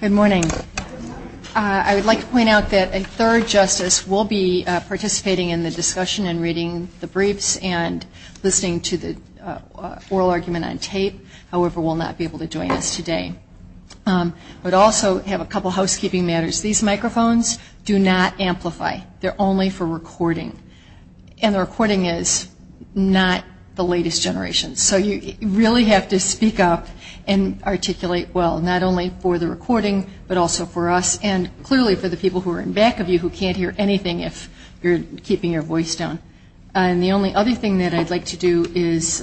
Good morning. I would like to point out that a third justice will be participating in the discussion and reading the briefs and listening to the oral argument on tape. However, will not be able to join us today. I would also have a couple of housekeeping matters. These microphones do not amplify. They are only for recording. And the recording is not the latest generation. So you really have to speak up and articulate what you think is important. Not only for the recording, but also for us and clearly for the people who are in back of you who can't hear anything if you're keeping your voice down. And the only other thing that I'd like to do is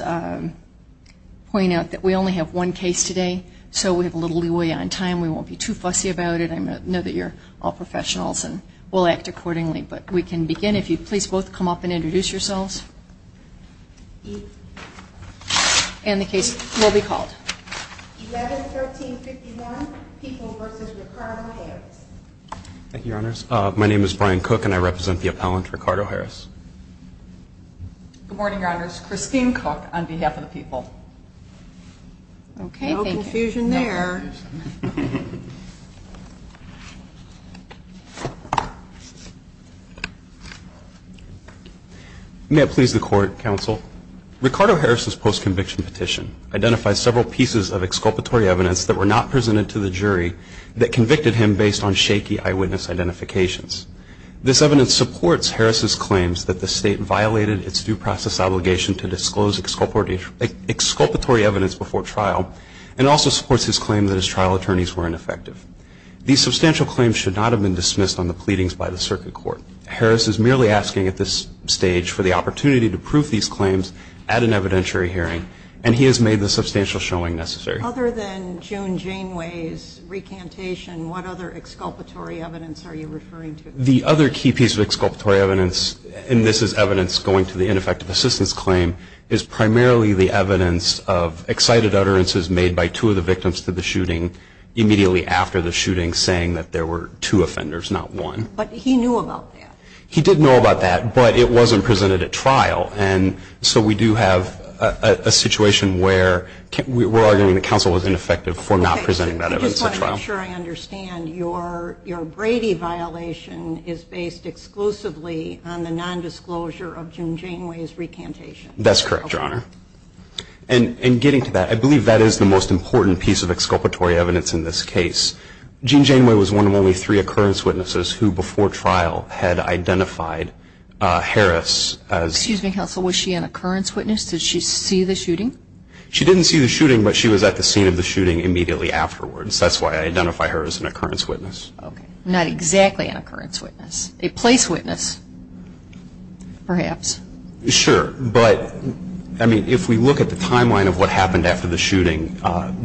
point out that we only have one case today. So we have a little leeway on time. We won't be too fussy about it. I know that you're all professionals and we'll act accordingly. But we can begin if you'd please both come up and introduce yourselves. And the case will be called. 11-13-51 People v. Ricardo Harris. Thank you, Your Honors. My name is Brian Cook and I represent the appellant, Ricardo Harris. Good morning, Your Honors. Christine Cook on behalf of the people. Okay. No confusion there. May it please the Court, Counsel. Ricardo Harris' post-conviction petition identifies several pieces of exculpatory evidence that were not presented to the jury that convicted him based on shaky eyewitness identifications. This evidence supports Harris' claims that the State violated its due process obligation to disclose exculpatory evidence before trial and also supports his claim that his trial attorneys were ineffective. These substantial claims should not have been dismissed on the pleadings by the Circuit Court. Harris is merely asking at this stage for the opportunity to prove these claims at an evidentiary hearing and he has made the substantial showing necessary. Other than June Janeway's recantation, what other exculpatory evidence are you referring to? The other key piece of exculpatory evidence, and this is evidence going to the ineffective assistance claim, is primarily the evidence of excited utterances made by two of the victims to the shooting immediately after the shooting saying that there were two offenders, not one. But he knew about that. He did know about that, but it wasn't presented at trial. And so we do have a situation where we're arguing that counsel was ineffective for not presenting that evidence at trial. I just want to make sure I understand. Your Brady violation is based exclusively on the nondisclosure of June Janeway's recantation. That's correct, Your Honor. And getting to that, I believe that is the most important piece of exculpatory evidence in this case. June Janeway was one of only three occurrence witnesses who, before trial, had identified Harris as... Excuse me, counsel. Was she an occurrence witness? Did she see the shooting? She didn't see the shooting, but she was at the scene of the shooting immediately afterwards. That's why I identify her as an occurrence witness. Okay. Not exactly an occurrence witness. A place witness, perhaps. Sure. But, I mean, if we look at the timeline of what happened after the shooting,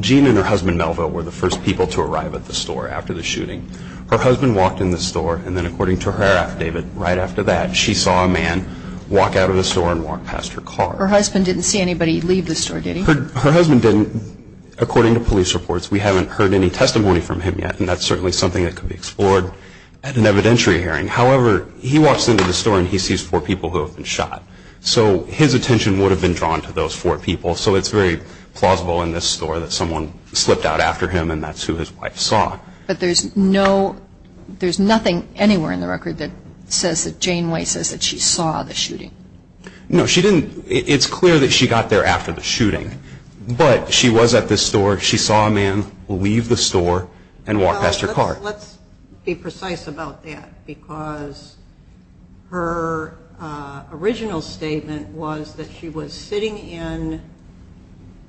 Jean and her husband Melville were the first people to arrive at the store after the shooting. Her husband walked in the store, and then according to her affidavit, right after that, she saw a man walk out of the store and walk past her car. Her husband didn't see anybody leave the store, did he? Her husband didn't. According to police reports, we haven't heard any testimony from him yet, and that's certainly something that could be explored at an evidentiary hearing. However, he walks into the store, and he sees four people who have been shot. So his attention would have been drawn to those four people, so it's very plausible in this story that someone slipped out after him, and that's who his wife saw. But there's nothing anywhere in the record that says that Jane White says that she saw the shooting. No, she didn't. It's clear that she got there after the shooting. But she was at the store. She saw a man leave the store and walk past her car. Let's be precise about that, because her original statement was that she was sitting in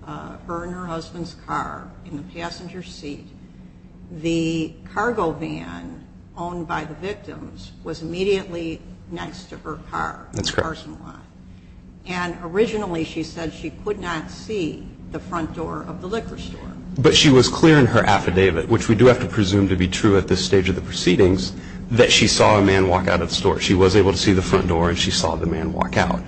her and her husband's car in the passenger seat. The cargo van owned by the victims was immediately next to her car. That's correct. And originally she said she could not see the front door of the liquor store. But she was clear in her affidavit, which we do have to presume to be true at this stage of the proceedings, that she saw a man walk out of the store. She was able to see the front door, and she saw the man walk out.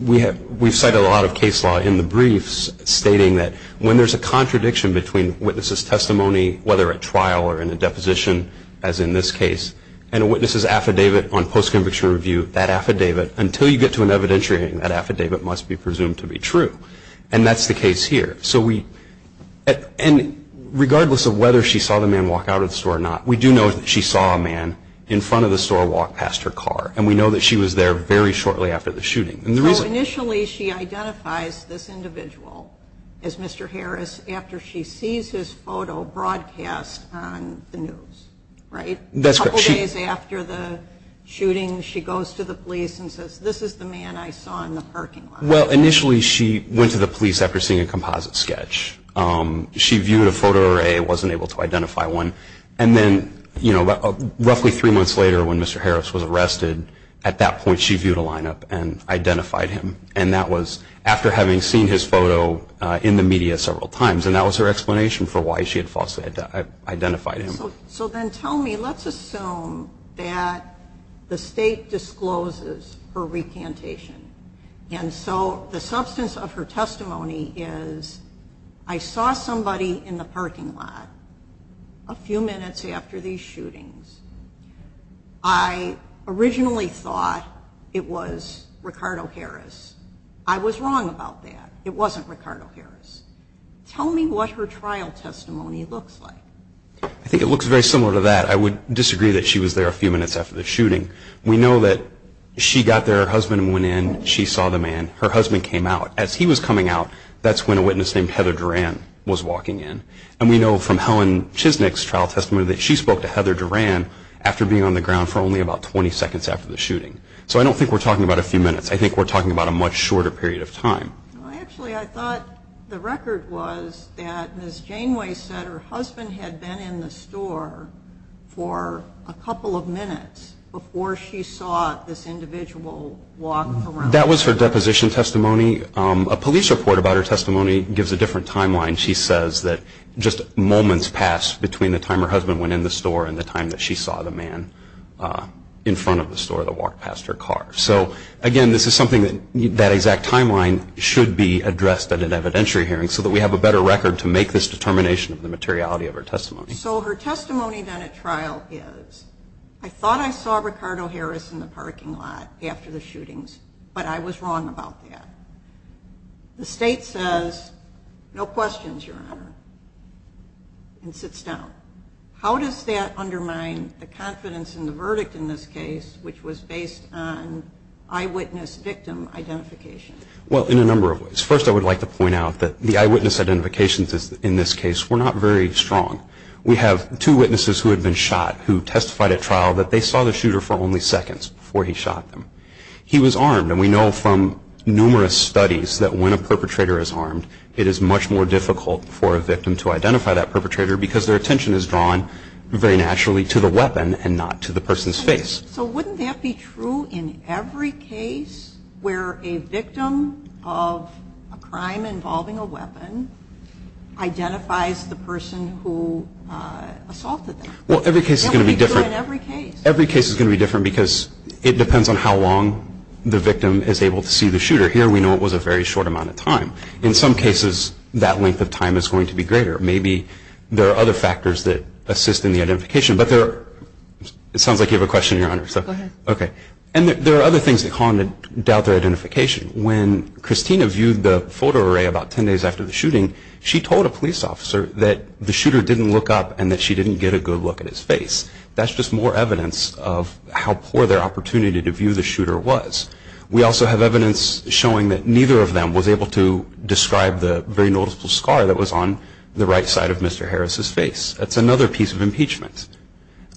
We've cited a lot of case law in the briefs stating that when there's a contradiction between witness's testimony, whether at trial or in a deposition, as in this case, and a witness's affidavit on post-conviction review, that affidavit, until you get to an evidentiary hearing, that affidavit must be presumed to be true. And that's the case here. So we – and regardless of whether she saw the man walk out of the store or not, we do know that she saw a man in front of the store walk past her car. And we know that she was there very shortly after the shooting. And the reason – So initially she identifies this individual as Mr. Harris after she sees his photo broadcast on the news, right? That's correct. A couple days after the shooting, she goes to the police and says, this is the man I saw in the parking lot. Well, initially she went to the police after seeing a composite sketch. She viewed a photo array and wasn't able to identify one. And then, you know, roughly three months later when Mr. Harris was arrested, at that point she viewed a lineup and identified him. And that was after having seen his photo in the media several times. And that was her explanation for why she had falsely identified him. So then tell me, let's assume that the state discloses her recantation. And so the substance of her testimony is, I saw somebody in the parking lot a few minutes after these shootings. I originally thought it was Ricardo Harris. I was wrong about that. It wasn't Ricardo Harris. Tell me what her trial testimony looks like. I think it looks very similar to that. I would disagree that she was there a few minutes after the shooting. We know that she got there, her husband went in, she saw the man. Her husband came out. As he was coming out, that's when a witness named Heather Duran was walking in. And we know from Helen Chisnick's trial testimony that she spoke to Heather Duran after being on the ground for only about 20 seconds after the shooting. So I don't think we're talking about a few minutes. I think we're talking about a much shorter period of time. Actually, I thought the record was that Ms. Janeway said her husband had been in the store for a couple of minutes before she saw this individual walk around. That was her deposition testimony. A police report about her testimony gives a different timeline. She says that just moments passed between the time her husband went in the store and the time that she saw the man in front of the store that walked past her car. So, again, this is something that that exact timeline should be addressed at an evidentiary hearing so that we have a better record to make this determination of the materiality of her testimony. So her testimony done at trial is, I thought I saw Ricardo Harris in the parking lot after the shootings, but I was wrong about that. The state says, no questions, Your Honor, and sits down. How does that undermine the confidence in the verdict in this case, which was based on eyewitness victim identification? Well, in a number of ways. First, I would like to point out that the eyewitness identifications in this case were not very strong. We have two witnesses who had been shot who testified at trial that they saw the shooter for only seconds before he shot them. He was armed, and we know from numerous studies that when a perpetrator is armed, it is much more difficult for a victim to identify that perpetrator because their attention is drawn very naturally to the weapon and not to the person's face. So wouldn't that be true in every case where a victim of a crime involving a weapon identifies the person who assaulted them? Well, every case is going to be different. That would be true in every case. Every case is going to be different because it depends on how long the victim is able to see the shooter. Here we know it was a very short amount of time. In some cases, that length of time is going to be greater. Maybe there are other factors that assist in the identification, but it sounds like you have a question, Your Honor. Go ahead. Okay. And there are other things that call into doubt their identification. When Christina viewed the photo array about 10 days after the shooting, she told a police officer that the shooter didn't look up and that she didn't get a good look at his face. That's just more evidence of how poor their opportunity to view the shooter was. We also have evidence showing that neither of them was able to describe the very noticeable scar that was on the right side of Mr. Harris's face. That's another piece of impeachment.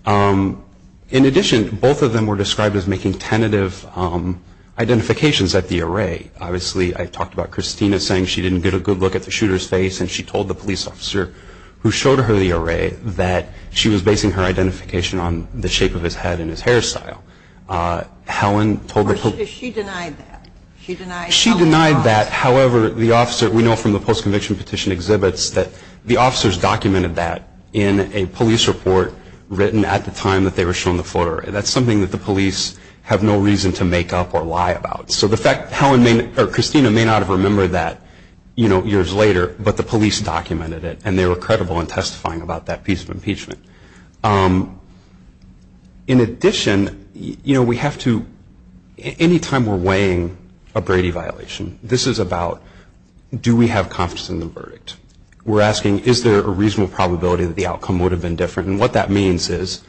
In addition, both of them were described as making tentative identifications at the array. Obviously, I talked about Christina saying she didn't get a good look at the shooter's face, and she told the police officer who showed her the array that she was basing her identification on the shape of his head and his hairstyle. Helen told the police officer. She denied that. She denied that. She denied that. However, we know from the post-conviction petition exhibits that the officers documented that in a police report written at the time that they were shown the photo array. That's something that the police have no reason to make up or lie about. So the fact that Christina may not have remembered that years later, but the police documented it, and they were credible in testifying about that piece of impeachment. In addition, any time we're weighing a Brady violation, this is about do we have confidence in the verdict. We're asking is there a reasonable probability that the outcome would have been different, and what that means is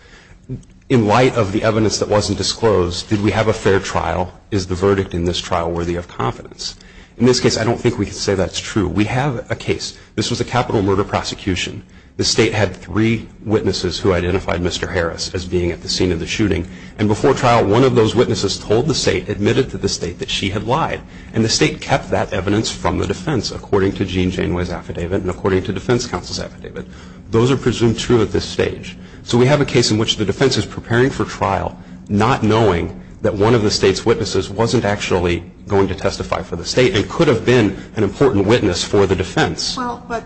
in light of the evidence that wasn't disclosed, did we have a fair trial? Is the verdict in this trial worthy of confidence? In this case, I don't think we can say that's true. We have a case. This was a capital murder prosecution. The state had three witnesses who identified Mr. Harris as being at the scene of the shooting, and before trial, one of those witnesses told the state, admitted to the state, that she had lied. And the state kept that evidence from the defense, according to Gene Janeway's affidavit and according to defense counsel's affidavit. Those are presumed true at this stage. So we have a case in which the defense is preparing for trial, not knowing that one of the state's witnesses wasn't actually going to testify for the state and could have been an important witness for the defense. Well, but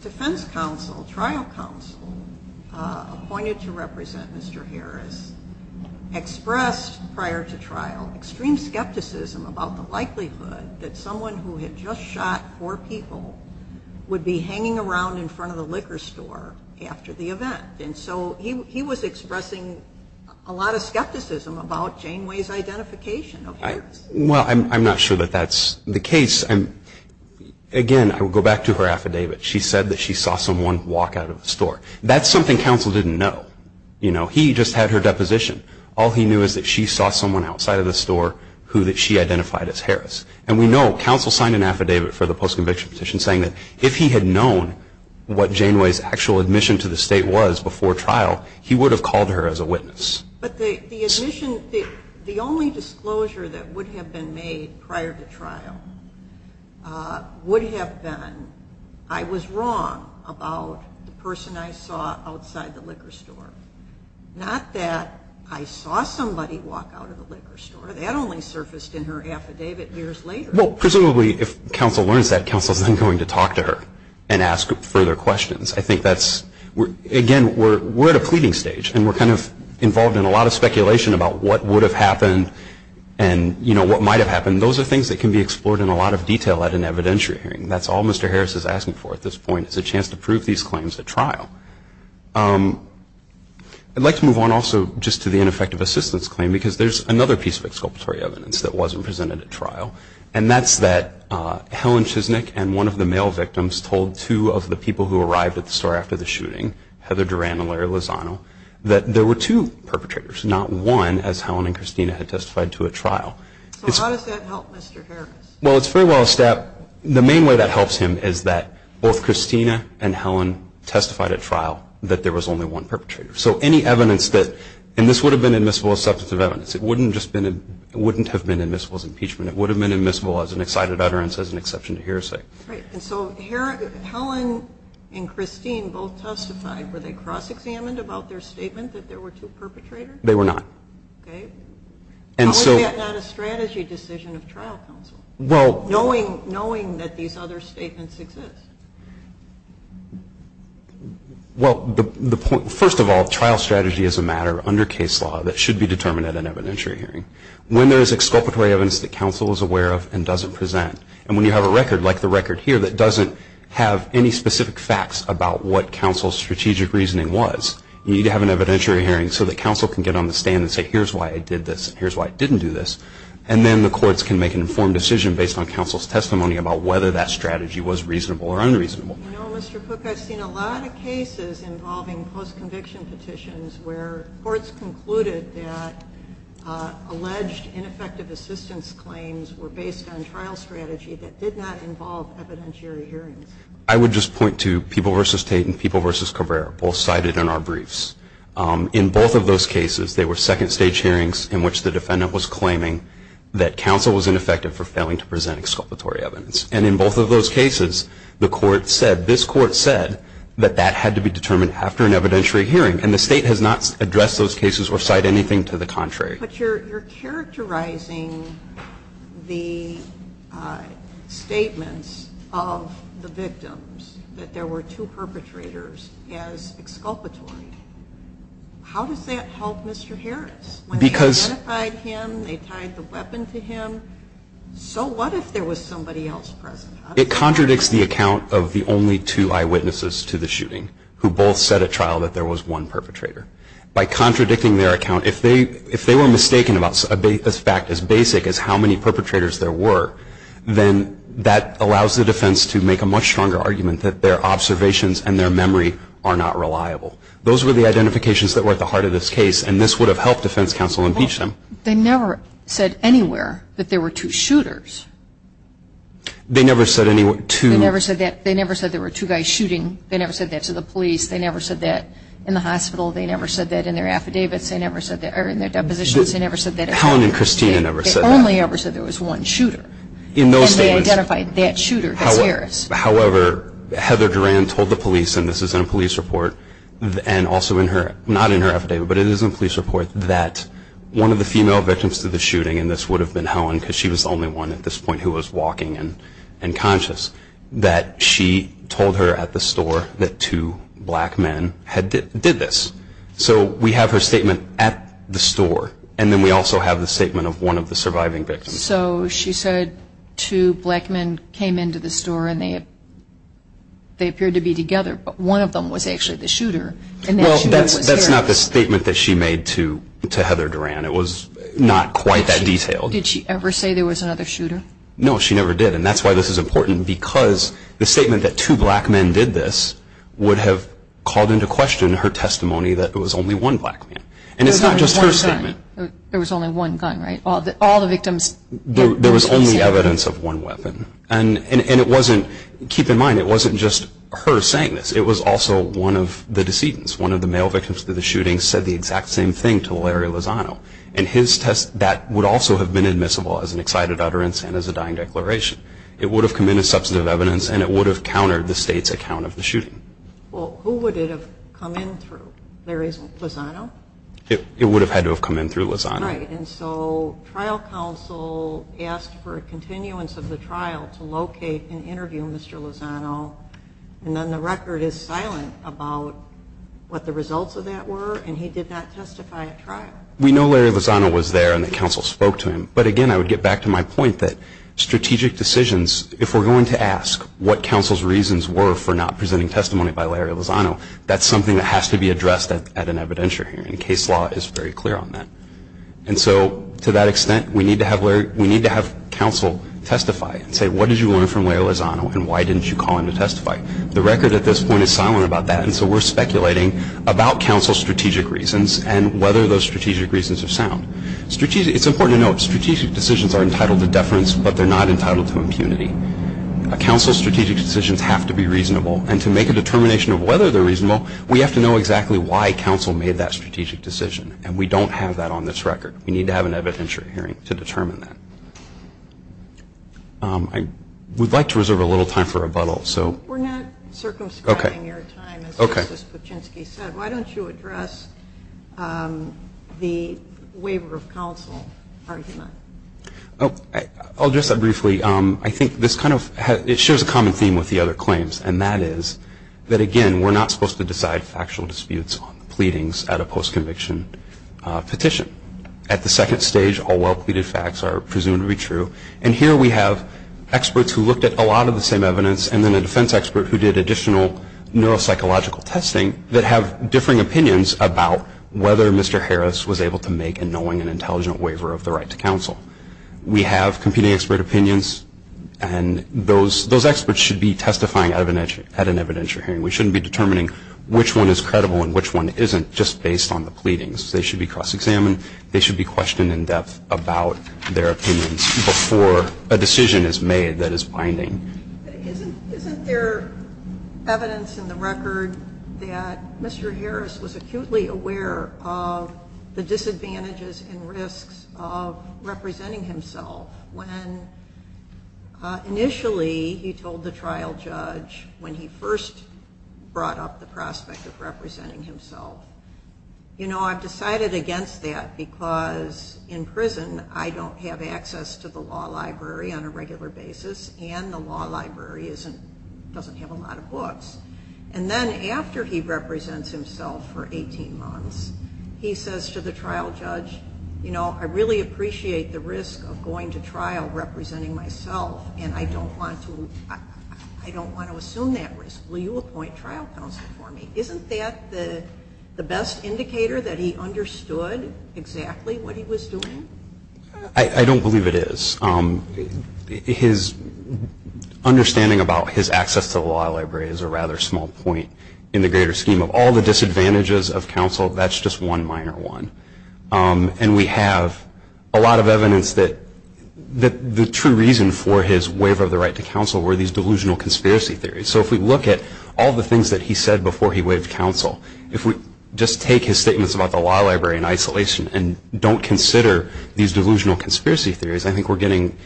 defense counsel, trial counsel, appointed to represent Mr. Harris, expressed, prior to trial, extreme skepticism about the likelihood that someone who had just shot four people would be hanging around in front of the liquor store after the event. And so he was expressing a lot of skepticism about Janeway's identification of Harris. Well, I'm not sure that that's the case. Again, I will go back to her affidavit. She said that she saw someone walk out of the store. That's something counsel didn't know. You know, he just had her deposition. All he knew is that she saw someone outside of the store who she identified as Harris. And we know counsel signed an affidavit for the post-conviction petition saying that if he had known what Janeway's actual admission to the state was before trial, he would have called her as a witness. But the admission, the only disclosure that would have been made prior to trial would have been, I was wrong about the person I saw outside the liquor store. Not that I saw somebody walk out of the liquor store. That only surfaced in her affidavit years later. Well, presumably if counsel learns that, counsel is then going to talk to her and ask further questions. I think that's, again, we're at a pleading stage, and we're kind of involved in a lot of speculation about what would have happened and, you know, what might have happened. Those are things that can be explored in a lot of detail at an evidentiary hearing. That's all Mr. Harris is asking for at this point is a chance to prove these claims at trial. I'd like to move on also just to the ineffective assistance claim because there's another piece of exculpatory evidence that wasn't presented at trial, and that's that Helen Chisnick and one of the male victims told two of the people who arrived at the store after the shooting, Heather Duran and Larry Lozano, that there were two perpetrators, not one, as Helen and Christina had testified to at trial. So how does that help Mr. Harris? Well, it's fairly well established. The main way that helps him is that both Christina and Helen testified at trial that there was only one perpetrator. So any evidence that, and this would have been admissible as substantive evidence. It wouldn't have been admissible as impeachment. It would have been admissible as an excited utterance, as an exception to hearsay. Right. And so Helen and Christine both testified. Were they cross-examined about their statement that there were two perpetrators? They were not. Okay. How is that not a strategy decision of trial counsel, knowing that these other statements exist? Well, first of all, trial strategy is a matter under case law that should be determined at an evidentiary hearing. When there is exculpatory evidence that counsel is aware of and doesn't present, and when you have a record like the record here that doesn't have any specific facts about what counsel's strategic reasoning was, you need to have an evidentiary hearing so that counsel can get on the stand and say, here's why I did this, and here's why I didn't do this. And then the courts can make an informed decision based on counsel's testimony about whether that strategy was reasonable or unreasonable. You know, Mr. Cook, I've seen a lot of cases involving post-conviction petitions where courts concluded that alleged ineffective assistance claims were based on trial strategy that did not involve evidentiary hearings. I would just point to People v. Tate and People v. Corvera, both cited in our briefs. In both of those cases, they were second-stage hearings in which the defendant was claiming that counsel was ineffective for failing to present exculpatory evidence. And in both of those cases, the court said, this court said, that that had to be determined after an evidentiary hearing. And the State has not addressed those cases or cite anything to the contrary. But you're characterizing the statements of the victims, that there were two perpetrators, as exculpatory. How does that help Mr. Harris? When they identified him, they tied the weapon to him, so what if there was somebody else present? It contradicts the account of the only two eyewitnesses to the shooting who both said at trial that there was one perpetrator. By contradicting their account, if they were mistaken about a fact as basic as how many perpetrators there were, then that allows the defense to make a much stronger argument that their observations and their memory are not reliable. Those were the identifications that were at the heart of this case, and this would have helped defense counsel impeach them. Well, they never said anywhere that there were two shooters. They never said anywhere two. They never said that. They never said there were two guys shooting. They never said that to the police. They never said that in the hospital. They never said that in their affidavits. They never said that, or in their depositions. They never said that. Helen and Christina never said that. They only ever said there was one shooter. And they identified that shooter as Harris. However, Heather Duran told the police, and this is in a police report, and also not in her affidavit, but it is in a police report, that one of the female victims to the shooting, and this would have been Helen because she was the only one at this point who was walking and conscious, that she told her at the store that two black men did this. So we have her statement at the store, and then we also have the statement of one of the surviving victims. So she said two black men came into the store and they appeared to be together, but one of them was actually the shooter. Well, that's not the statement that she made to Heather Duran. It was not quite that detailed. Did she ever say there was another shooter? No, she never did, and that's why this is important, because the statement that two black men did this would have called into question her testimony that it was only one black man. And it's not just her statement. There was only one gun, right? All the victims? There was only evidence of one weapon, and it wasn't, keep in mind, it wasn't just her saying this. It was also one of the decedents, one of the male victims to the shooting, said the exact same thing to Larry Lozano, and his test, that would also have been admissible as an excited utterance and as a dying declaration. It would have come in as substantive evidence, and it would have countered the state's account of the shooting. Well, who would it have come in through? Larry Lozano? It would have had to have come in through Lozano. Right, and so trial counsel asked for a continuance of the trial to locate and interview Mr. Lozano, and then the record is silent about what the results of that were, and he did not testify at trial. We know Larry Lozano was there and that counsel spoke to him, but again, I would get back to my point that strategic decisions, if we're going to ask what counsel's reasons were for not presenting testimony by Larry Lozano, that's something that has to be addressed at an evidentiary hearing, and case law is very clear on that. And so to that extent, we need to have counsel testify and say what did you learn from Larry Lozano, and why didn't you call him to testify? The record at this point is silent about that, and so we're speculating about counsel's strategic reasons and whether those strategic reasons are sound. It's important to note strategic decisions are entitled to deference, but they're not entitled to impunity. Counsel's strategic decisions have to be reasonable, and to make a determination of whether they're reasonable, we have to know exactly why counsel made that strategic decision, and we don't have that on this record. We need to have an evidentiary hearing to determine that. I would like to reserve a little time for rebuttal. We're not circumscribing your time, as Justice Puchinsky said. Why don't you address the waiver of counsel argument? I'll address that briefly. I think this kind of shares a common theme with the other claims, and that is that, again, we're not supposed to decide factual disputes on the pleadings at a post-conviction petition. At the second stage, all well-pleaded facts are presumed to be true, and here we have experts who looked at a lot of the same evidence and then a defense expert who did additional neuropsychological testing that have differing opinions about whether Mr. Harris was able to make and knowing an intelligent waiver of the right to counsel. We have competing expert opinions, and those experts should be testifying at an evidentiary hearing. We shouldn't be determining which one is credible and which one isn't just based on the pleadings. They should be cross-examined. They should be questioned in depth about their opinions before a decision is made that is binding. Isn't there evidence in the record that Mr. Harris was acutely aware of the disadvantages and risks of representing himself when initially he told the trial judge when he first brought up the prospect of representing himself, you know, I've decided against that because in prison I don't have access to the law library on a regular basis, and then after he represents himself for 18 months, he says to the trial judge, you know, I really appreciate the risk of going to trial representing myself and I don't want to assume that risk. Will you appoint trial counsel for me? Isn't that the best indicator that he understood exactly what he was doing? I don't believe it is. His understanding about his access to the law library is a rather small point in the greater scheme of all the disadvantages of counsel. That's just one minor one. And we have a lot of evidence that the true reason for his waive of the right to counsel were these delusional conspiracy theories. So if we look at all the things that he said before he waived counsel, if we just take his statements about the law library in isolation and don't consider these delusional conspiracy theories, I think we're getting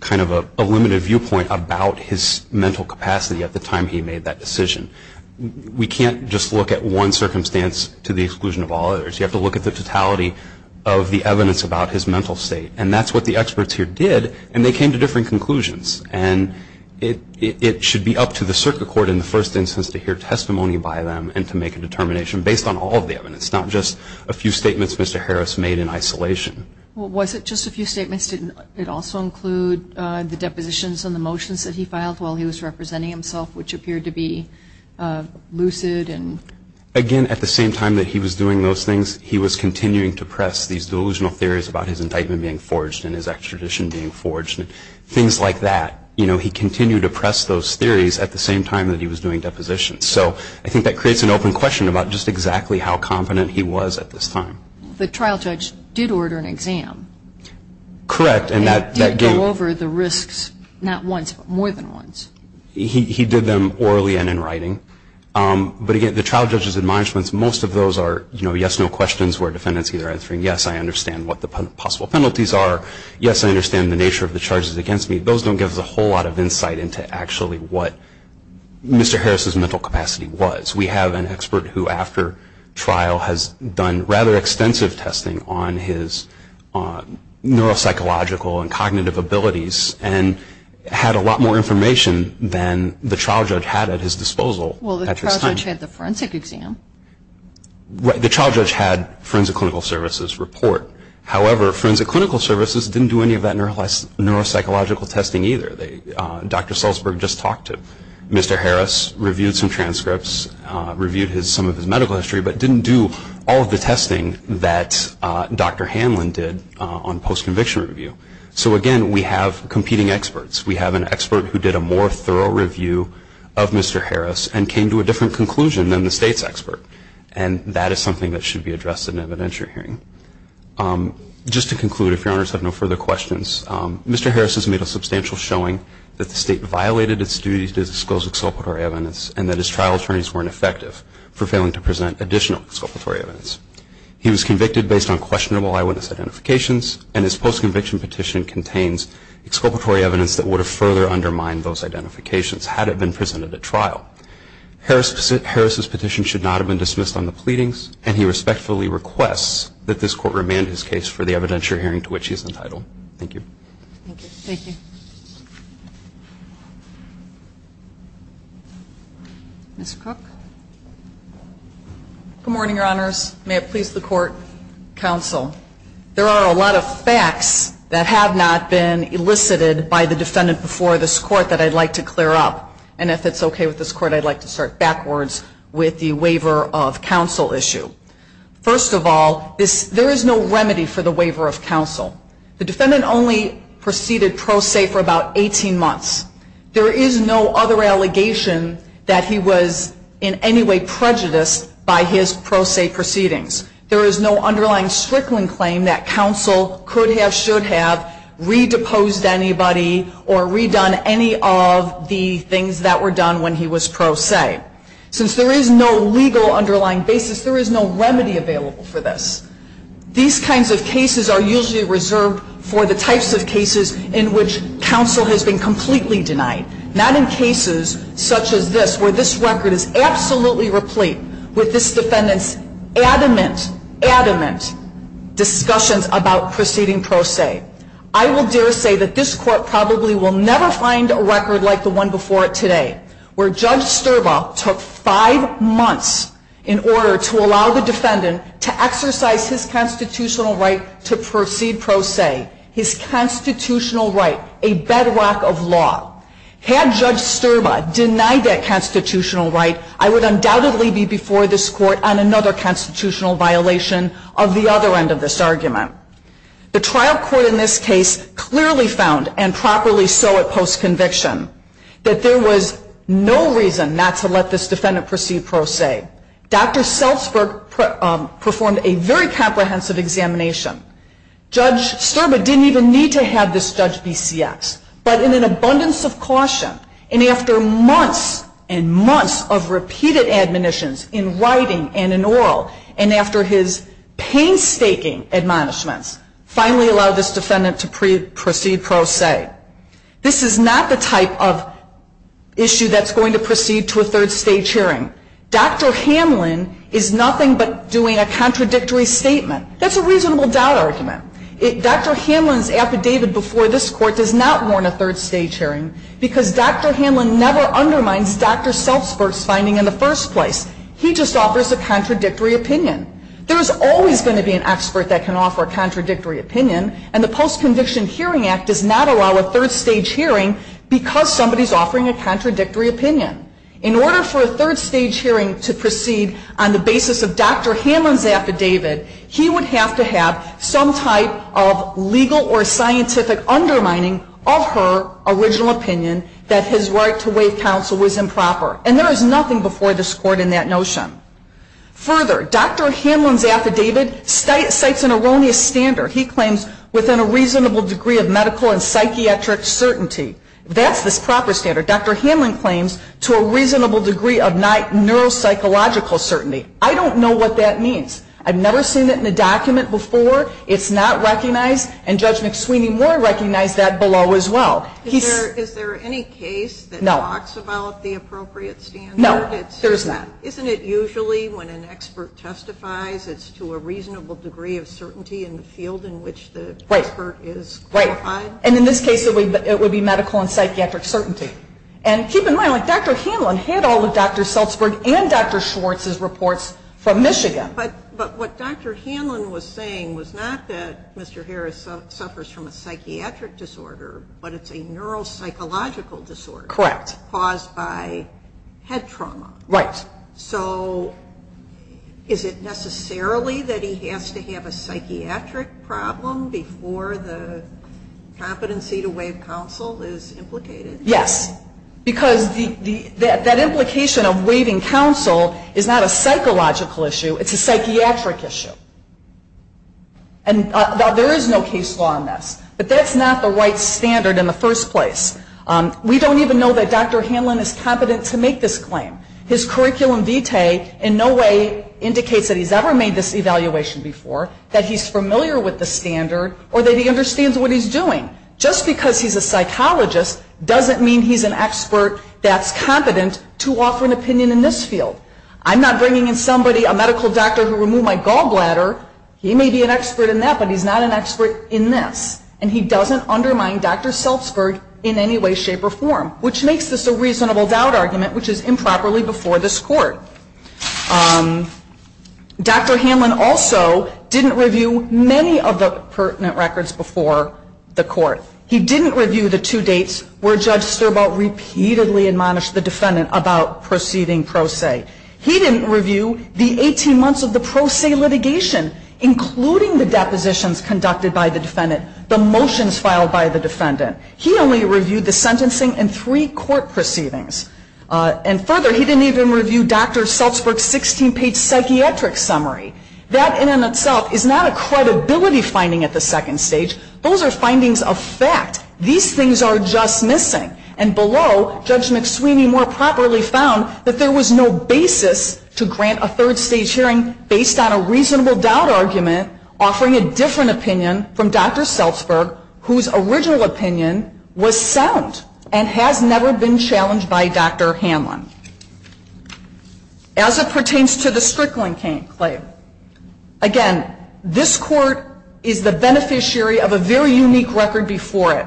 kind of a limited viewpoint about his mental capacity at the time he made that decision. We can't just look at one circumstance to the exclusion of all others. You have to look at the totality of the evidence about his mental state. And that's what the experts here did, and they came to different conclusions. And it should be up to the circuit court in the first instance to hear testimony by them and to make a determination based on all of the evidence, not just a few statements Mr. Harris made in isolation. Was it just a few statements? Did it also include the depositions and the motions that he filed while he was representing himself, which appeared to be lucid? Again, at the same time that he was doing those things, he was continuing to press these delusional theories about his indictment being forged and his extradition being forged and things like that. He continued to press those theories at the same time that he was doing depositions. So I think that creates an open question about just exactly how confident he was at this time. The trial judge did order an exam. Correct. And that did go over the risks, not once, but more than once. He did them orally and in writing. But again, the trial judge's admonishments, most of those are yes, no questions where defendants either answering yes, I understand what the possible penalties are, yes, I understand the nature of the charges against me. Those don't give us a whole lot of insight into actually what Mr. Harris' mental capacity was. We have an expert who after trial has done rather extensive testing on his neuropsychological and cognitive abilities and had a lot more information than the trial judge had at his disposal at this time. Well, the trial judge had the forensic exam. Right. The trial judge had forensic clinical services report. However, forensic clinical services didn't do any of that neuropsychological testing either. Dr. Sulzberg just talked to Mr. Harris, reviewed some transcripts, reviewed some of his medical history, but didn't do all of the testing that Dr. Hanlon did on post-conviction review. So again, we have competing experts. We have an expert who did a more thorough review of Mr. Harris and came to a different conclusion than the State's expert. And that is something that should be addressed in an evidentiary hearing. Just to conclude, if Your Honors have no further questions, Mr. Harris has made a substantial showing that the State violated its duty to disclose exculpatory evidence and that his trial attorneys weren't effective for failing to present additional exculpatory evidence. He was convicted based on questionable eyewitness identifications, and his post-conviction petition contains exculpatory evidence that would have further undermined those identifications had it been presented at trial. Harris' petition should not have been dismissed on the pleadings, and he respectfully requests that this Court remand his case for the evidentiary hearing to which he is entitled. Thank you. Thank you. Ms. Cook. Good morning, Your Honors. May it please the Court, counsel. There are a lot of facts that have not been elicited by the defendant before this Court that I'd like to clear up. And if it's okay with this Court, I'd like to start backwards with the waiver of counsel issue. First of all, there is no remedy for the waiver of counsel. The defendant only proceeded pro se for about 18 months. There is no other allegation that he was in any way prejudiced by his pro se proceedings. There is no underlying Strickland claim that counsel could have, should have, redeposed anybody or redone any of the things that were done when he was pro se. Since there is no legal underlying basis, there is no remedy available for this. These kinds of cases are usually reserved for the types of cases in which counsel has been completely denied. Not in cases such as this, where this record is absolutely replete with this defendant's adamant, adamant discussions about proceeding pro se. I will dare say that this Court probably will never find a record like the one before it today, where Judge Sterba took five months in order to allow the defendant to exercise his constitutional right to proceed pro se. His constitutional right, a bedrock of law. Had Judge Sterba denied that constitutional right, I would undoubtedly be before this Court on another constitutional violation of the other end of this argument. The trial court in this case clearly found, and properly so at post conviction, that there was no reason not to let this defendant proceed pro se. Dr. Selzberg performed a very comprehensive examination. Judge Sterba didn't even need to have this judge BCS, but in an abundance of caution, and after months and months of repeated admonitions in writing and in oral, and after his painstaking admonishments, finally allowed this defendant to proceed pro se. This is not the type of issue that's going to proceed to a third stage hearing. Dr. Hanlon is nothing but doing a contradictory statement. That's a reasonable doubt argument. Dr. Hanlon's affidavit before this Court does not warn a third stage hearing, because Dr. Hanlon never undermines Dr. Selzberg's finding in the first place. He just offers a contradictory opinion. There is always going to be an expert that can offer a contradictory opinion, and the Post-Conviction Hearing Act does not allow a third stage hearing, because somebody is offering a contradictory opinion. In order for a third stage hearing to proceed on the basis of Dr. Hanlon's affidavit, he would have to have some type of legal or scientific undermining of her original opinion that his right to waive counsel was improper. And there is nothing before this Court in that notion. Further, Dr. Hanlon's affidavit cites an erroneous standard. He claims within a reasonable degree of medical and psychiatric certainty. That's the proper standard. Dr. Hanlon claims to a reasonable degree of neuropsychological certainty. I don't know what that means. I've never seen it in a document before. It's not recognized, and Judge McSweeny-Moore recognized that below as well. Is there any case that talks about the appropriate standard? No, there is not. Right, right. And in this case, it would be medical and psychiatric certainty. And keep in mind, Dr. Hanlon had all of Dr. Sulzberg and Dr. Schwartz's reports from Michigan. But what Dr. Hanlon was saying was not that Mr. Harris suffers from a psychiatric disorder, but it's a neuropsychological disorder. Correct. Caused by head trauma. Right. So is it necessarily that he has to have a psychiatric problem before the competency to waive counsel is implicated? Yes, because that implication of waiving counsel is not a psychological issue. It's a psychiatric issue. And there is no case law on this, but that's not the right standard in the first place. We don't even know that Dr. Hanlon is competent to make this claim. His curriculum vitae in no way indicates that he's ever made this evaluation before, that he's familiar with the standard, or that he understands what he's doing. Just because he's a psychologist doesn't mean he's an expert that's competent to offer an opinion in this field. I'm not bringing in somebody, a medical doctor, to remove my gallbladder. He may be an expert in that, but he's not an expert in this. And he doesn't undermine Dr. Sulzberg in any way, shape, or form, which makes this a reasonable doubt argument, which is improperly before this Court. Dr. Hanlon also didn't review many of the pertinent records before the Court. He didn't review the two dates where Judge Sterbault repeatedly admonished the defendant about proceeding pro se. He didn't review the 18 months of the pro se litigation, including the depositions conducted by the defendant, the motions filed by the defendant. He only reviewed the sentencing and three court proceedings. And further, he didn't even review Dr. Sulzberg's 16-page psychiatric summary. That in and of itself is not a credibility finding at the second stage. Those are findings of fact. These things are just missing. And below, Judge McSweeney more properly found that there was no basis to grant a third stage hearing based on a reasonable doubt argument offering a different opinion from Dr. Sulzberg, whose original opinion was sound and has never been challenged by Dr. Hanlon. As it pertains to the Strickland claim, again, this Court is the beneficiary of a very unique record before it.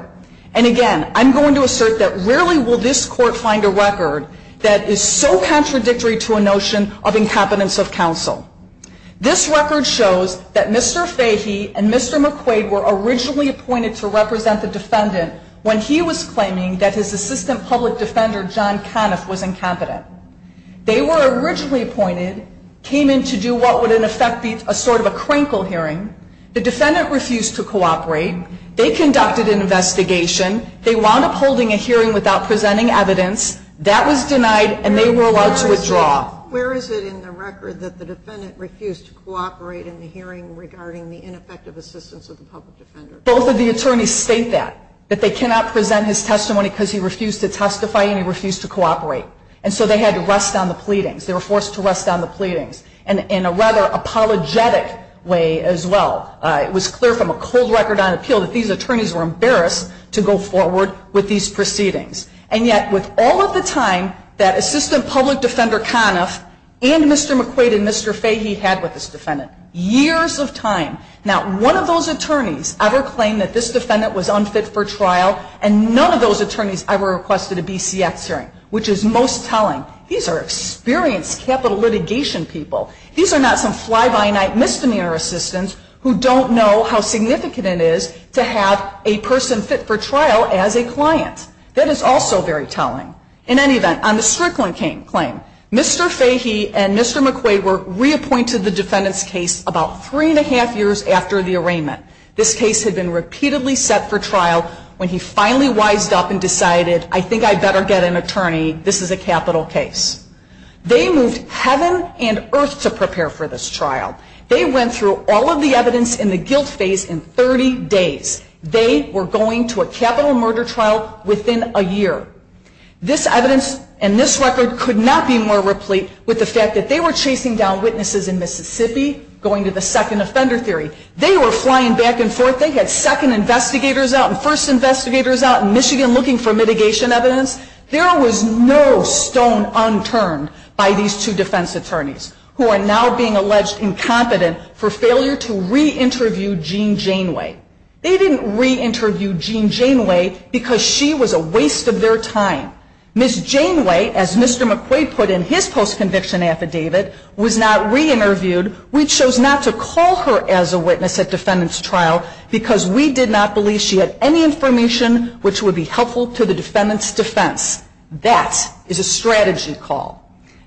And again, I'm going to assert that rarely will this Court find a record that is so contradictory to a notion of incompetence of counsel. This record shows that Mr. Fahy and Mr. McQuaid were originally appointed to represent the defendant when he was claiming that his assistant public defender, John Conniff, was incompetent. They were originally appointed, came in to do what would in effect be a sort of a crinkle hearing. The defendant refused to cooperate. They conducted an investigation. They wound up holding a hearing without presenting evidence. That was denied, and they were allowed to withdraw. Where is it in the record that the defendant refused to cooperate in the hearing regarding the ineffective assistance of the public defender? Both of the attorneys state that, that they cannot present his testimony because he refused to testify and he refused to cooperate. And so they had to rest on the pleadings. They were forced to rest on the pleadings, and in a rather apologetic way as well. It was clear from a cold record on appeal that these attorneys were embarrassed to go forward with these proceedings. And yet, with all of the time that assistant public defender Conniff and Mr. McQuaid and Mr. Fahy had with this defendant, years of time, not one of those attorneys ever claimed that this defendant was unfit for trial, and none of those attorneys ever requested a BCX hearing, which is most telling. These are experienced capital litigation people. These are not some fly-by-night misdemeanor assistants who don't know how significant it is to have a person fit for trial as a client. That is also very telling. In any event, on the Strickland claim, Mr. Fahy and Mr. McQuaid were reappointed the defendant's case about three and a half years after the arraignment. This case had been repeatedly set for trial when he finally wised up and decided, I think I better get an attorney. This is a capital case. They moved heaven and earth to prepare for this trial. They went through all of the evidence in the guilt phase in 30 days. They were going to a capital murder trial within a year. This evidence and this record could not be more replete with the fact that they were chasing down witnesses in Mississippi going to the second offender theory. They were flying back and forth. They had second investigators out and first investigators out in Michigan looking for mitigation evidence. There was no stone unturned by these two defense attorneys who are now being alleged incompetent for failure to re-interview Gene Janeway. They didn't re-interview Gene Janeway because she was a waste of their time. Ms. Janeway, as Mr. McQuaid put in his post-conviction affidavit, was not re-interviewed. We chose not to call her as a witness at defendant's trial because we did not believe she had any information which would be helpful to the defendant's defense. That is a strategy call.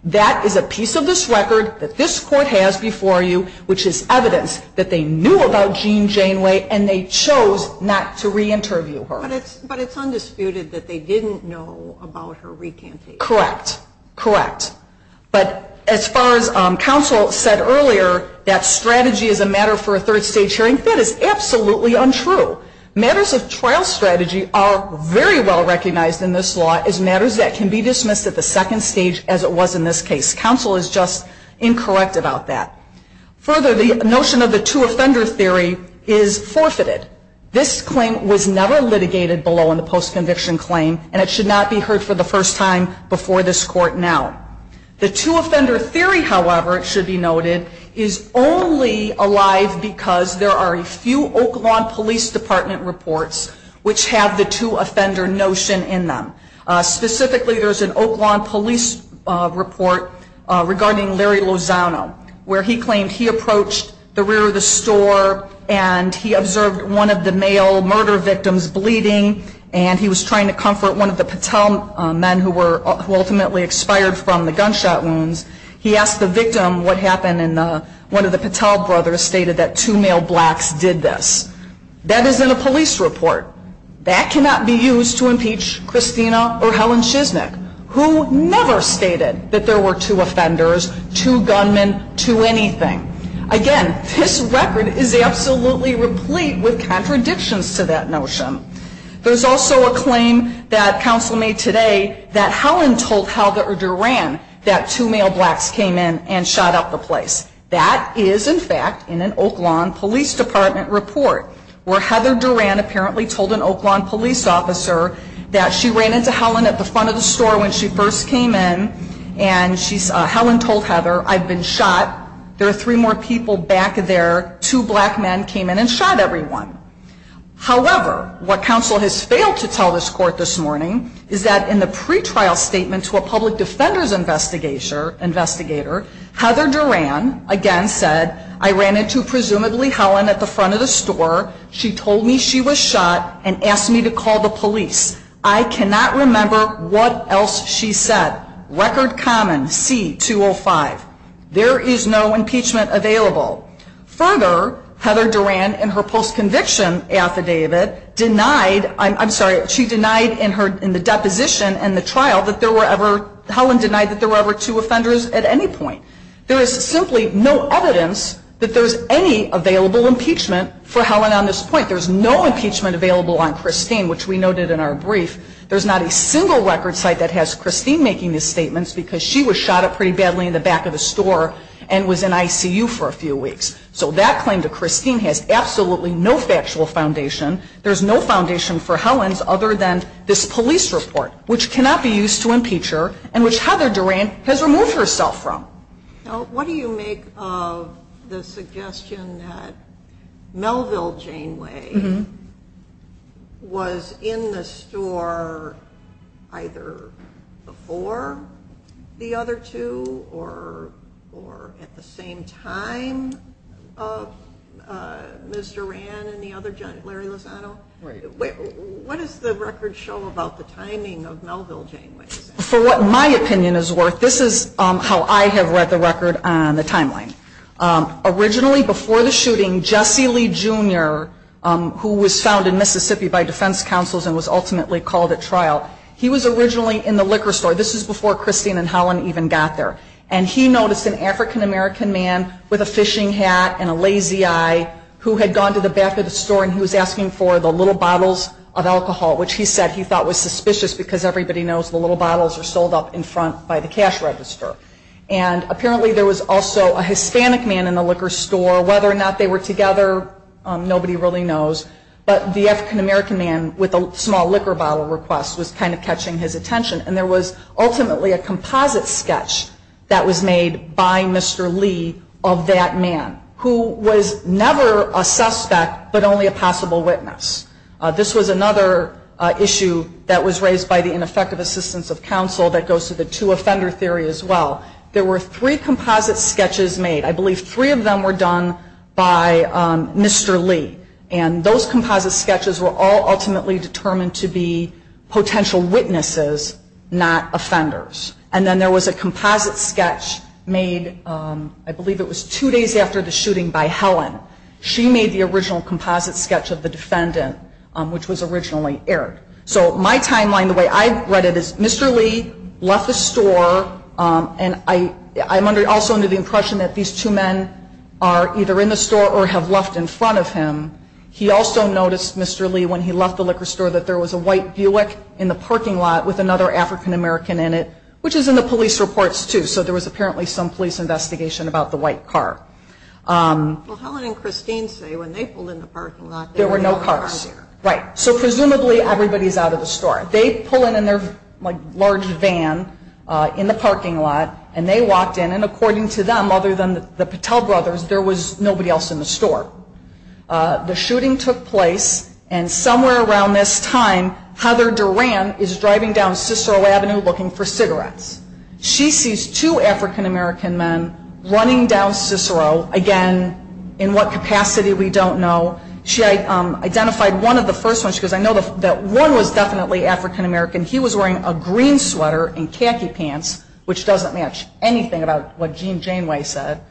That is a piece of this record that this court has before you, which is evidence that they knew about Gene Janeway and they chose not to re-interview her. But it's undisputed that they didn't know about her recantation. Correct. Correct. But as far as counsel said earlier that strategy is a matter for a third stage hearing, that is absolutely untrue. Matters of trial strategy are very well recognized in this law as matters that can be dismissed at the second stage as it was in this case. Counsel is just incorrect about that. Further, the notion of the two offender theory is forfeited. This claim was never litigated below in the post-conviction claim and it should not be heard for the first time before this court now. The two offender theory, however, it should be noted, is only alive because there are a few Oak Lawn Police Department reports which have the two offender notion in them. Specifically, there's an Oak Lawn Police report regarding Larry Lozano, where he claimed he approached the rear of the store and he observed one of the male murder victims bleeding and he was trying to comfort one of the Patel men who ultimately expired from the gunshot wounds. He asked the victim what happened and one of the Patel brothers stated that two male blacks did this. That is in a police report. That cannot be used to impeach Christina or Helen Shiznik, who never stated that there were two offenders, two gunmen, two anything. Again, this record is absolutely replete with contradictions to that notion. There's also a claim that counsel made today that Helen told Heather Duran that two male blacks came in and shot up the place. That is, in fact, in an Oak Lawn Police Department report where Heather Duran apparently told an Oak Lawn police officer that she ran into Helen at the front of the store when she first came in and Helen told Heather, I've been shot, there are three more people back there, two black men came in and shot everyone. However, what counsel has failed to tell this court this morning is that in the pretrial statement to a public defender's investigator, Heather Duran again said, I ran into presumably Helen at the front of the store. She told me she was shot and asked me to call the police. I cannot remember what else she said. Record common, C-205. There is no impeachment available. Further, Heather Duran in her post-conviction affidavit denied, I'm sorry, she denied in the deposition and the trial that there were ever, two offenders at any point. There is simply no evidence that there's any available impeachment for Helen on this point. There's no impeachment available on Christine, which we noted in our brief. There's not a single record site that has Christine making these statements because she was shot up pretty badly in the back of the store and was in ICU for a few weeks. So that claim to Christine has absolutely no factual foundation. There's no foundation for Helen's other than this police report, which cannot be used to impeach her and which Heather Duran has removed herself from. What do you make of the suggestion that Melville Janeway was in the store either before the other two or at the same time of Ms. Duran and the other, Larry Lozano? What does the record show about the timing of Melville Janeway's death? For what my opinion is worth, this is how I have read the record on the timeline. Originally before the shooting, Jesse Lee, Jr., who was found in Mississippi by defense counsels and was ultimately called at trial, he was originally in the liquor store. This was before Christine and Helen even got there. And he noticed an African-American man with a fishing hat and a lazy eye who had gone to the back of the store and he was asking for the little bottles of alcohol, which he said he thought was suspicious because everybody knows the little bottles are sold up in front by the cash register. And apparently there was also a Hispanic man in the liquor store. Whether or not they were together, nobody really knows. But the African-American man with a small liquor bottle request was kind of catching his attention. And there was ultimately a composite sketch that was made by Mr. Lee of that man, who was never a suspect but only a possible witness. This was another issue that was raised by the ineffective assistance of counsel that goes to the two-offender theory as well. There were three composite sketches made. I believe three of them were done by Mr. Lee. And those composite sketches were all ultimately determined to be potential witnesses, not offenders. And then there was a composite sketch made, I believe it was two days after the shooting, by Helen. She made the original composite sketch of the defendant, which was originally aired. So my timeline, the way I read it, is Mr. Lee left the store, and I'm also under the impression that these two men are either in the store or have left in front of him. He also noticed, Mr. Lee, when he left the liquor store, that there was a white Buick in the parking lot with another African-American in it, which is in the police reports, too. So there was apparently some police investigation about the white car. Well, Helen and Christine say when they pulled in the parking lot, there were no cars there. Right. So presumably everybody's out of the store. They pull in in their, like, large van in the parking lot, and they walked in. And according to them, other than the Patel brothers, there was nobody else in the store. The shooting took place, and somewhere around this time, Heather Duran is driving down Cicero Avenue looking for cigarettes. She sees two African-American men running down Cicero. Again, in what capacity, we don't know. She identified one of the first ones. She goes, I know that one was definitely African-American. He was wearing a green sweater and khaki pants, which doesn't match anything about what Gene Janeway said.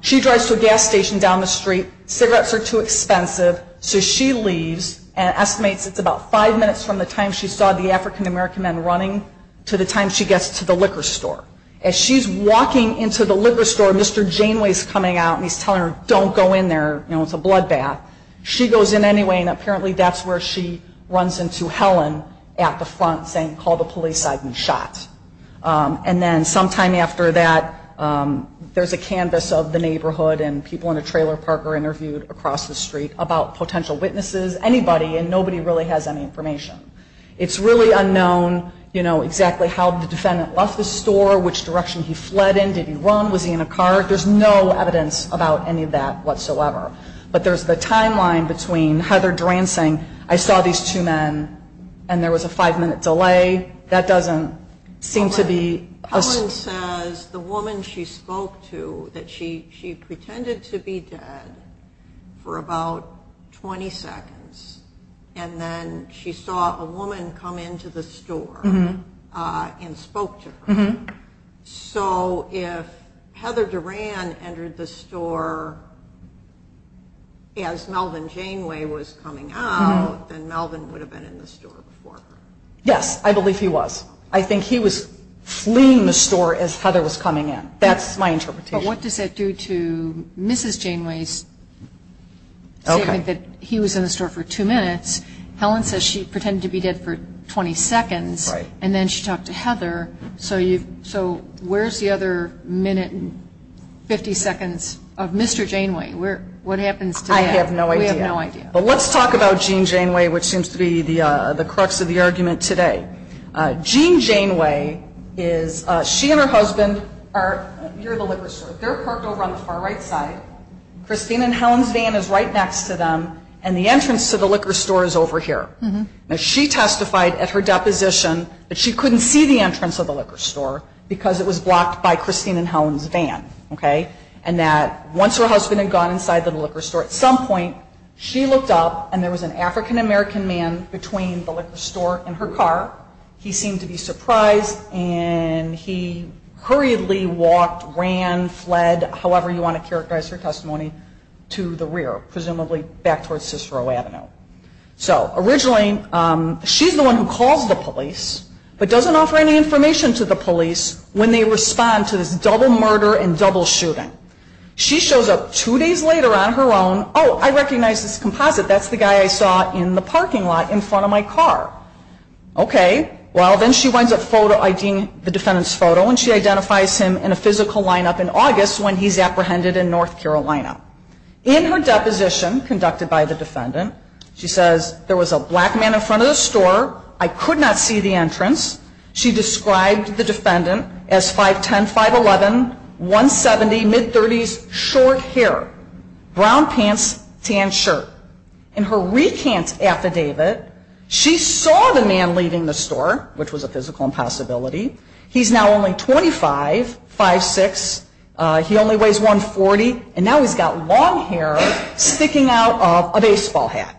She drives to a gas station down the street. Cigarettes are too expensive, so she leaves and estimates it's about five minutes from the time she saw the African-American men running to the time she gets to the liquor store. As she's walking into the liquor store, Mr. Janeway's coming out, and he's telling her, don't go in there. You know, it's a bloodbath. She goes in anyway, and apparently that's where she runs into Helen at the front saying, call the police, I've been shot. And then sometime after that, there's a canvas of the neighborhood and people in a trailer park are interviewed across the street about potential witnesses, anybody, and nobody really has any information. It's really unknown, you know, exactly how the defendant left the store, which direction he fled in, did he run, was he in a car. There's no evidence about any of that whatsoever. But there's the timeline between Heather Dransing, I saw these two men and there was a five-minute delay. That doesn't seem to be. Helen says the woman she spoke to, that she pretended to be dead for about 20 seconds, and then she saw a woman come into the store and spoke to her. So if Heather Duran entered the store as Melvin Janeway was coming out, then Melvin would have been in the store before her. Yes, I believe he was. I think he was fleeing the store as Heather was coming in. That's my interpretation. But what does that do to Mrs. Janeway's statement that he was in the store for two minutes? Helen says she pretended to be dead for 20 seconds, and then she talked to Heather. So where's the other minute and 50 seconds of Mr. Janeway? What happens to that? I have no idea. We have no idea. But let's talk about Jean Janeway, which seems to be the crux of the argument today. Jean Janeway is she and her husband are near the liquor store. They're parked over on the far right side. Christine and Helen's van is right next to them, and the entrance to the liquor store is over here. Now, she testified at her deposition that she couldn't see the entrance of the liquor store because it was blocked by Christine and Helen's van, okay, and that once her husband had gone inside the liquor store, at some point she looked up and there was an African-American man between the liquor store and her car. He seemed to be surprised, and he hurriedly walked, ran, fled, however you want to characterize her testimony, to the rear, presumably back towards Cicero Avenue. So originally she's the one who calls the police but doesn't offer any information to the police when they respond to this double murder and double shooting. She shows up two days later on her own. Oh, I recognize this composite. That's the guy I saw in the parking lot in front of my car. Okay. Well, then she winds up IDing the defendant's photo, and she identifies him in a physical lineup in August when he's apprehended in North Carolina. In her deposition conducted by the defendant, she says there was a black man in front of the store. I could not see the entrance. She described the defendant as 5'10", 5'11", 170, mid-30s, short hair, brown pants, tan shirt. In her recant affidavit, she saw the man leaving the store, which was a physical impossibility. He's now only 25, 5'6", he only weighs 140, and now he's got long hair sticking out of a baseball hat.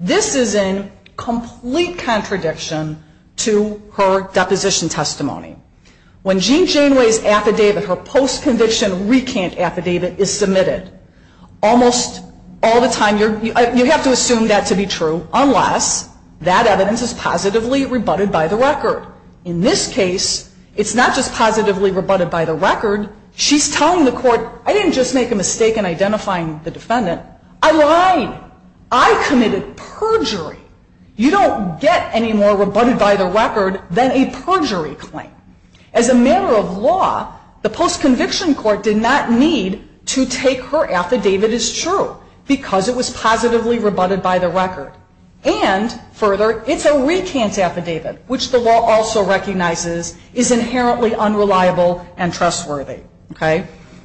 This is in complete contradiction to her deposition testimony. When Jean Janeway's affidavit, her post-conviction recant affidavit, is submitted, almost all the time you have to assume that to be true unless that evidence is positively rebutted by the record. In this case, it's not just positively rebutted by the record. She's telling the court, I didn't just make a mistake in identifying the defendant. I lied. I committed perjury. You don't get any more rebutted by the record than a perjury claim. As a matter of law, the post-conviction court did not need to take her affidavit as true because it was positively rebutted by the record. And further, it's a recant affidavit, which the law also recognizes is inherently unreliable and trustworthy.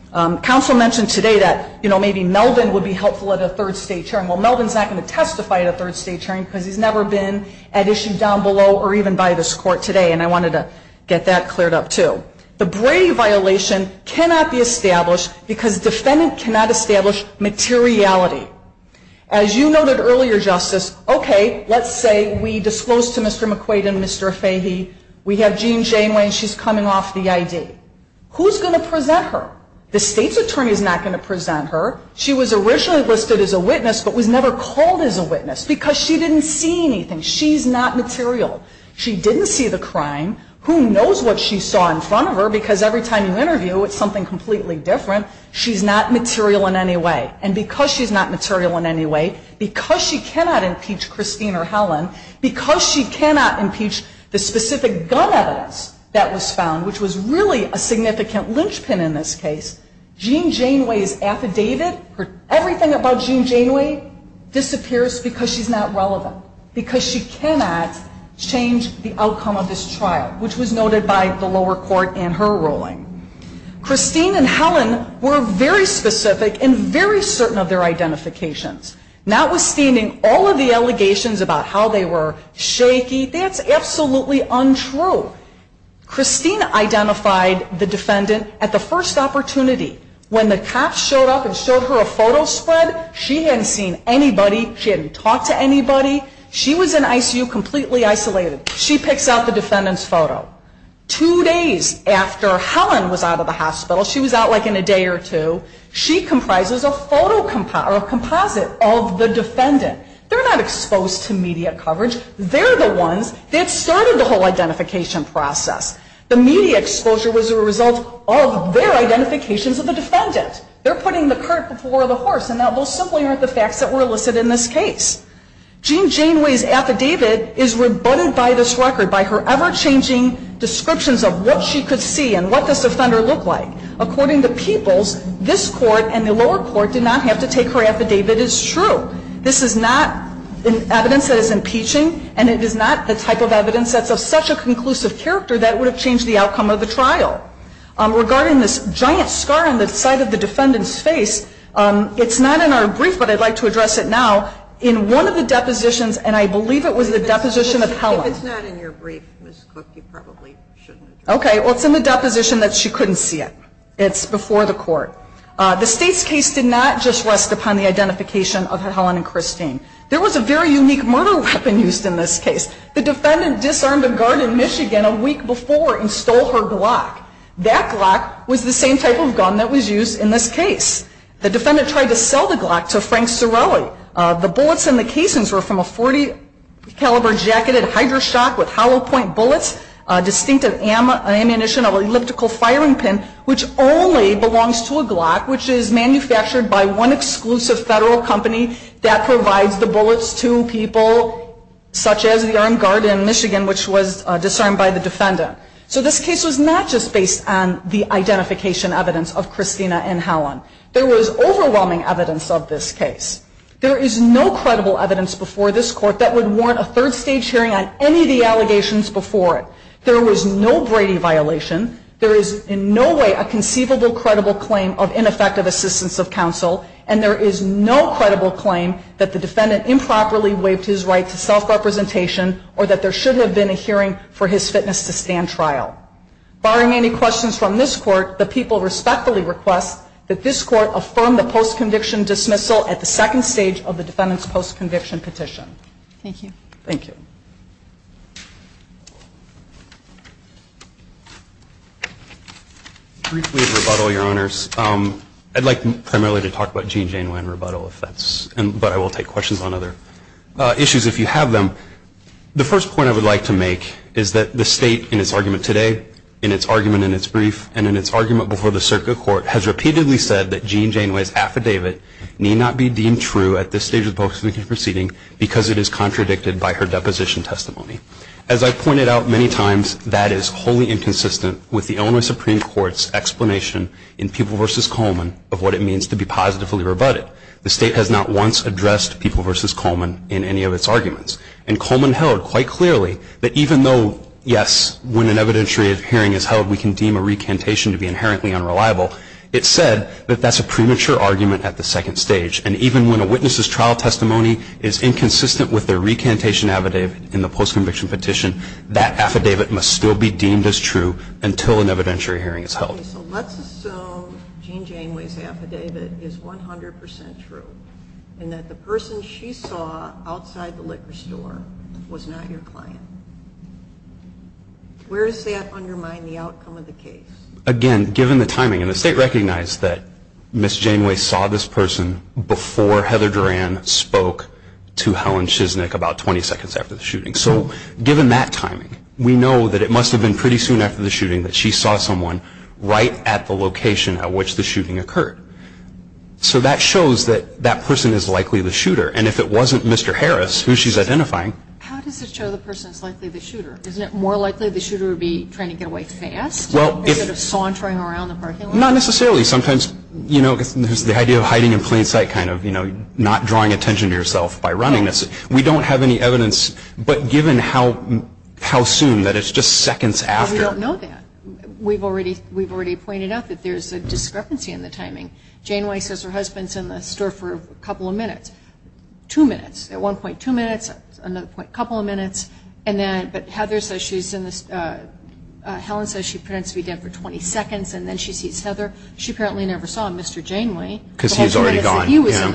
Counsel mentioned today that maybe Melvin would be helpful at a third state hearing. Well, Melvin's not going to testify at a third state hearing because he's never been at issue down below or even by this court today, and I wanted to get that cleared up, too. The Brady violation cannot be established because defendant cannot establish materiality. As you noted earlier, Justice, okay, let's say we disclose to Mr. McQuaid and Mr. Fahey. We have Jean Janeway, and she's coming off the ID. Who's going to present her? The state's attorney is not going to present her. She was originally listed as a witness but was never called as a witness because she didn't see anything. She's not material. She didn't see the crime. Who knows what she saw in front of her because every time you interview, it's something completely different. She's not material in any way, and because she's not material in any way, because she cannot impeach Christine or Helen, because she cannot impeach the specific gun evidence that was found, which was really a significant linchpin in this case, Jean Janeway is affidavit. Everything about Jean Janeway disappears because she's not relevant, because she cannot change the outcome of this trial, which was noted by the lower court in her ruling. Christine and Helen were very specific and very certain of their identifications, notwithstanding all of the allegations about how they were shaky. That's absolutely untrue. Christine identified the defendant at the first opportunity. When the cops showed up and showed her a photo spread, she hadn't seen anybody. She hadn't talked to anybody. She was in ICU completely isolated. She picks out the defendant's photo. Two days after Helen was out of the hospital, she was out like in a day or two, she comprises a composite of the defendant. They're not exposed to media coverage. They're the ones that started the whole identification process. The media exposure was a result of their identifications of the defendant. They're putting the cart before the horse, and those simply aren't the facts that were listed in this case. Jean Janeway's affidavit is rebutted by this record, by her ever-changing descriptions of what she could see and what this offender looked like. According to Peoples, this court and the lower court did not have to take her affidavit as true. This is not evidence that is impeaching, and it is not the type of evidence that's of such a conclusive character that would have changed the outcome of the trial. Regarding this giant scar on the side of the defendant's face, it's not in our brief, but I'd like to address it now, in one of the depositions, and I believe it was the deposition of Helen. If it's not in your brief, Ms. Cook, you probably shouldn't address it. Okay, well, it's in the deposition that she couldn't see it. It's before the court. The State's case did not just rest upon the identification of Helen and Christine. There was a very unique murder weapon used in this case. The defendant disarmed a guard in Michigan a week before and stole her Glock. That Glock was the same type of gun that was used in this case. The defendant tried to sell the Glock to Frank Cerulli. The bullets in the casings were from a .40 caliber jacketed Hydroshock with hollow point bullets, a distinctive ammunition of an elliptical firing pin, which only belongs to a Glock, which is manufactured by one exclusive federal company that provides the bullets to people, such as the armed guard in Michigan, which was disarmed by the defendant. So this case was not just based on the identification evidence of Christina and Helen. There was overwhelming evidence of this case. There is no credible evidence before this court that would warrant a third stage hearing on any of the allegations before it. There was no Brady violation. There is in no way a conceivable credible claim of ineffective assistance of counsel, and there is no credible claim that the defendant improperly waived his right to self-representation or that there should have been a hearing for his fitness to stand trial. Barring any questions from this court, the people respectfully request that this court affirm the post-conviction dismissal at the second stage of the defendant's post-conviction petition. Thank you. Thank you. Briefly a rebuttal, Your Honors. I'd like primarily to talk about Gene Janeway and rebuttal, but I will take questions on other issues if you have them. The first point I would like to make is that the State in its argument today, in its argument in its brief, and in its argument before the circuit court has repeatedly said that Gene Janeway's affidavit need not be deemed true at this stage of the post-conviction proceeding because it is contradicted by her deposition testimony. As I've pointed out many times, that is wholly inconsistent with the Illinois Supreme Court's explanation in People v. Coleman of what it means to be positively rebutted. The State has not once addressed People v. Coleman in any of its arguments, and Coleman held quite clearly that even though, yes, when an evidentiary hearing is held, we can deem a recantation to be inherently unreliable, it said that that's a premature argument at the second stage. And even when a witness's trial testimony is inconsistent with their recantation affidavit in the post-conviction petition, that affidavit must still be deemed as true until an evidentiary hearing is held. Okay. So let's assume Gene Janeway's affidavit is 100 percent true, and that the person she saw outside the liquor store was not your client. Where does that undermine the outcome of the case? Again, given the timing, and the State recognized that Ms. Janeway saw this person before Heather Duran spoke to Helen Chisnick about 20 seconds after the shooting. So given that timing, we know that it must have been pretty soon after the shooting that she saw someone right at the location at which the shooting occurred. So that shows that that person is likely the shooter. And if it wasn't Mr. Harris, who she's identifying... How does it show the person is likely the shooter? Isn't it more likely the shooter would be trying to get away fast? Well, if... Instead of sauntering around the parking lot? Not necessarily. Sometimes, you know, there's the idea of hiding in plain sight kind of, you know, not drawing attention to yourself by running. We don't have any evidence. But given how soon, that it's just seconds after... We don't know that. We've already pointed out that there's a discrepancy in the timing. Janeway says her husband's in the store for a couple of minutes. Two minutes. At one point, two minutes. Another point, a couple of minutes. And then Heather says she's in the... Helen says she pretends to be dead for 20 seconds, and then she sees Heather. She apparently never saw Mr. Janeway. Because he's already gone. He was in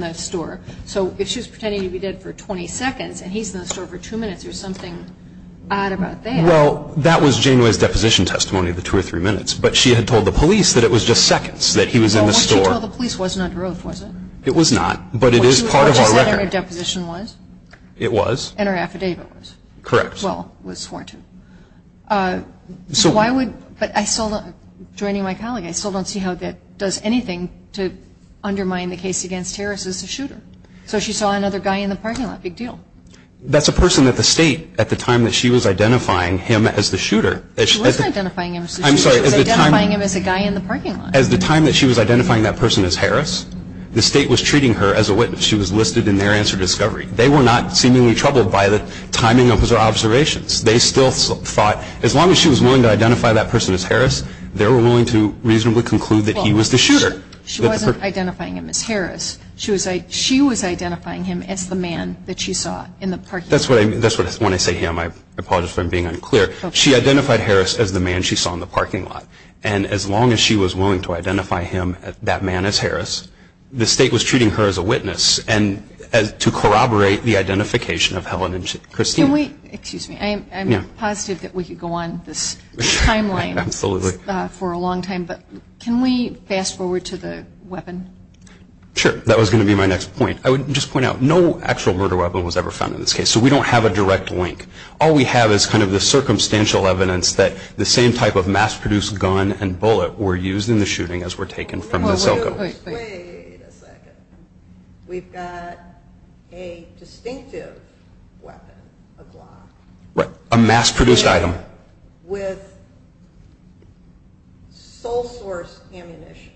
the store. So if she's pretending to be dead for 20 seconds, and he's in the store for two minutes, there's something odd about that. Well, that was Janeway's deposition testimony of the two or three minutes. But she had told the police that it was just seconds that he was in the store. Well, what she told the police wasn't under oath, was it? It was not. But it is part of our record. Which is what her deposition was? It was. And her affidavit was? Correct. Well, was sworn to. So why would... But I still don't... Joining my colleague, I still don't see how that does anything to undermine the case against Harris as a shooter. So she saw another guy in the parking lot. Big deal. That's a person that the State, at the time that she was identifying him as the shooter... She wasn't identifying him as the shooter. She was identifying him as a guy in the parking lot. As the time that she was identifying that person as Harris, the State was treating her as a witness. She was listed in their answer discovery. They were not seemingly troubled by the timing of her observations. They still thought, as long as she was willing to identify that person as Harris, they were willing to reasonably conclude that he was the shooter. She wasn't identifying him as Harris. She was identifying him as the man that she saw in the parking lot. That's when I say him. I apologize for being unclear. She identified Harris as the man she saw in the parking lot. And as long as she was willing to identify him, that man, as Harris, the State was treating her as a witness to corroborate the identification of Helen and Christine. Excuse me. I'm positive that we could go on this timeline for a long time. But can we fast forward to the weapon? Sure. That was going to be my next point. I would just point out, no actual murder weapon was ever found in this case. So we don't have a direct link. All we have is kind of the circumstantial evidence that the same type of mass-produced gun and bullet were used in the shooting as were taken from the Zilko. Wait a second. We've got a distinctive weapon, a Glock. Right. A mass-produced item. With sole source ammunition,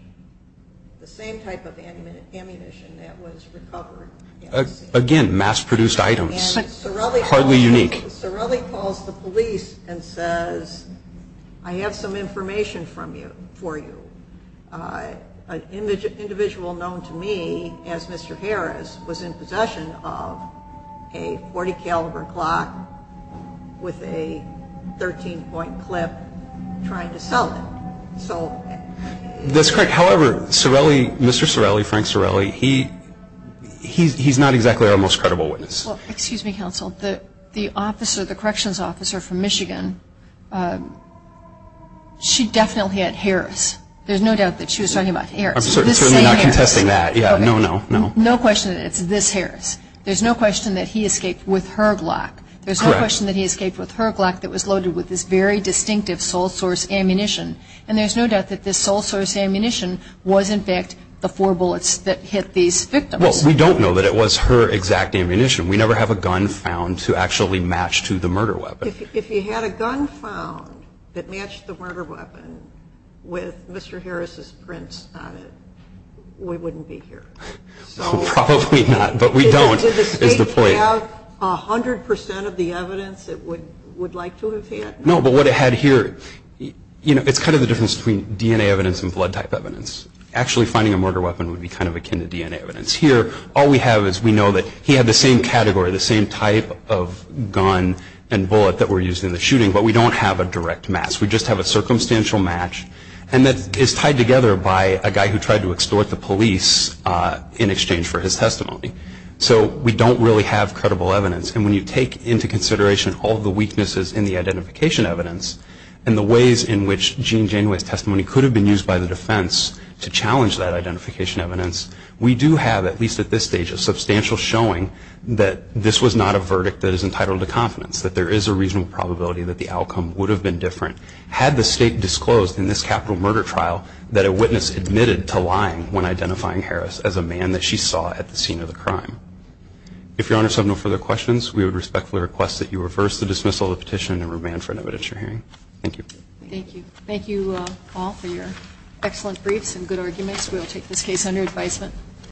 the same type of ammunition that was recovered. Again, mass-produced items. And Sorelli calls the police and says, I have some information for you. An individual known to me as Mr. Harris was in possession of a .40 caliber Glock with a 13-point clip trying to sell it. That's correct. However, Mr. Sorelli, Frank Sorelli, he's not exactly our most credible witness. Well, excuse me, counsel. The officer, the corrections officer from Michigan, she definitely had Harris. There's no doubt that she was talking about Harris. I'm certainly not contesting that. Yeah, no, no, no. No question that it's this Harris. There's no question that he escaped with her Glock. There's no question that he escaped with her Glock that was loaded with this very distinctive sole source ammunition. And there's no doubt that this sole source ammunition was, in fact, the four bullets that hit these victims. Well, we don't know that it was her exact ammunition. We never have a gun found to actually match to the murder weapon. If you had a gun found that matched the murder weapon with Mr. Harris's prints on it, we wouldn't be here. Probably not, but we don't is the point. Did the State have 100 percent of the evidence it would like to have had? No, but what it had here, you know, it's kind of the difference between DNA evidence and blood type evidence. Actually finding a murder weapon would be kind of akin to DNA evidence. Here, all we have is we know that he had the same category, the same type of gun and bullet that were used in the shooting, but we don't have a direct match. We just have a circumstantial match, and that is tied together by a guy who tried to extort the police in exchange for his testimony. So we don't really have credible evidence. And when you take into consideration all the weaknesses in the identification evidence and the ways in which Gene Janeway's testimony could have been used by the defense to challenge that identification evidence, we do have, at least at this stage, a substantial showing that this was not a verdict that is entitled to confidence, that there is a reasonable probability that the outcome would have been different had the State disclosed in this capital murder trial that a witness admitted to lying when identifying Harris as a man that she saw at the scene of the crime. If Your Honor has no further questions, we would respectfully request that you reverse the dismissal of the petition and remand for an evidence hearing. Thank you. Thank you all for your excellent briefs and good arguments. We will take this case under advisement.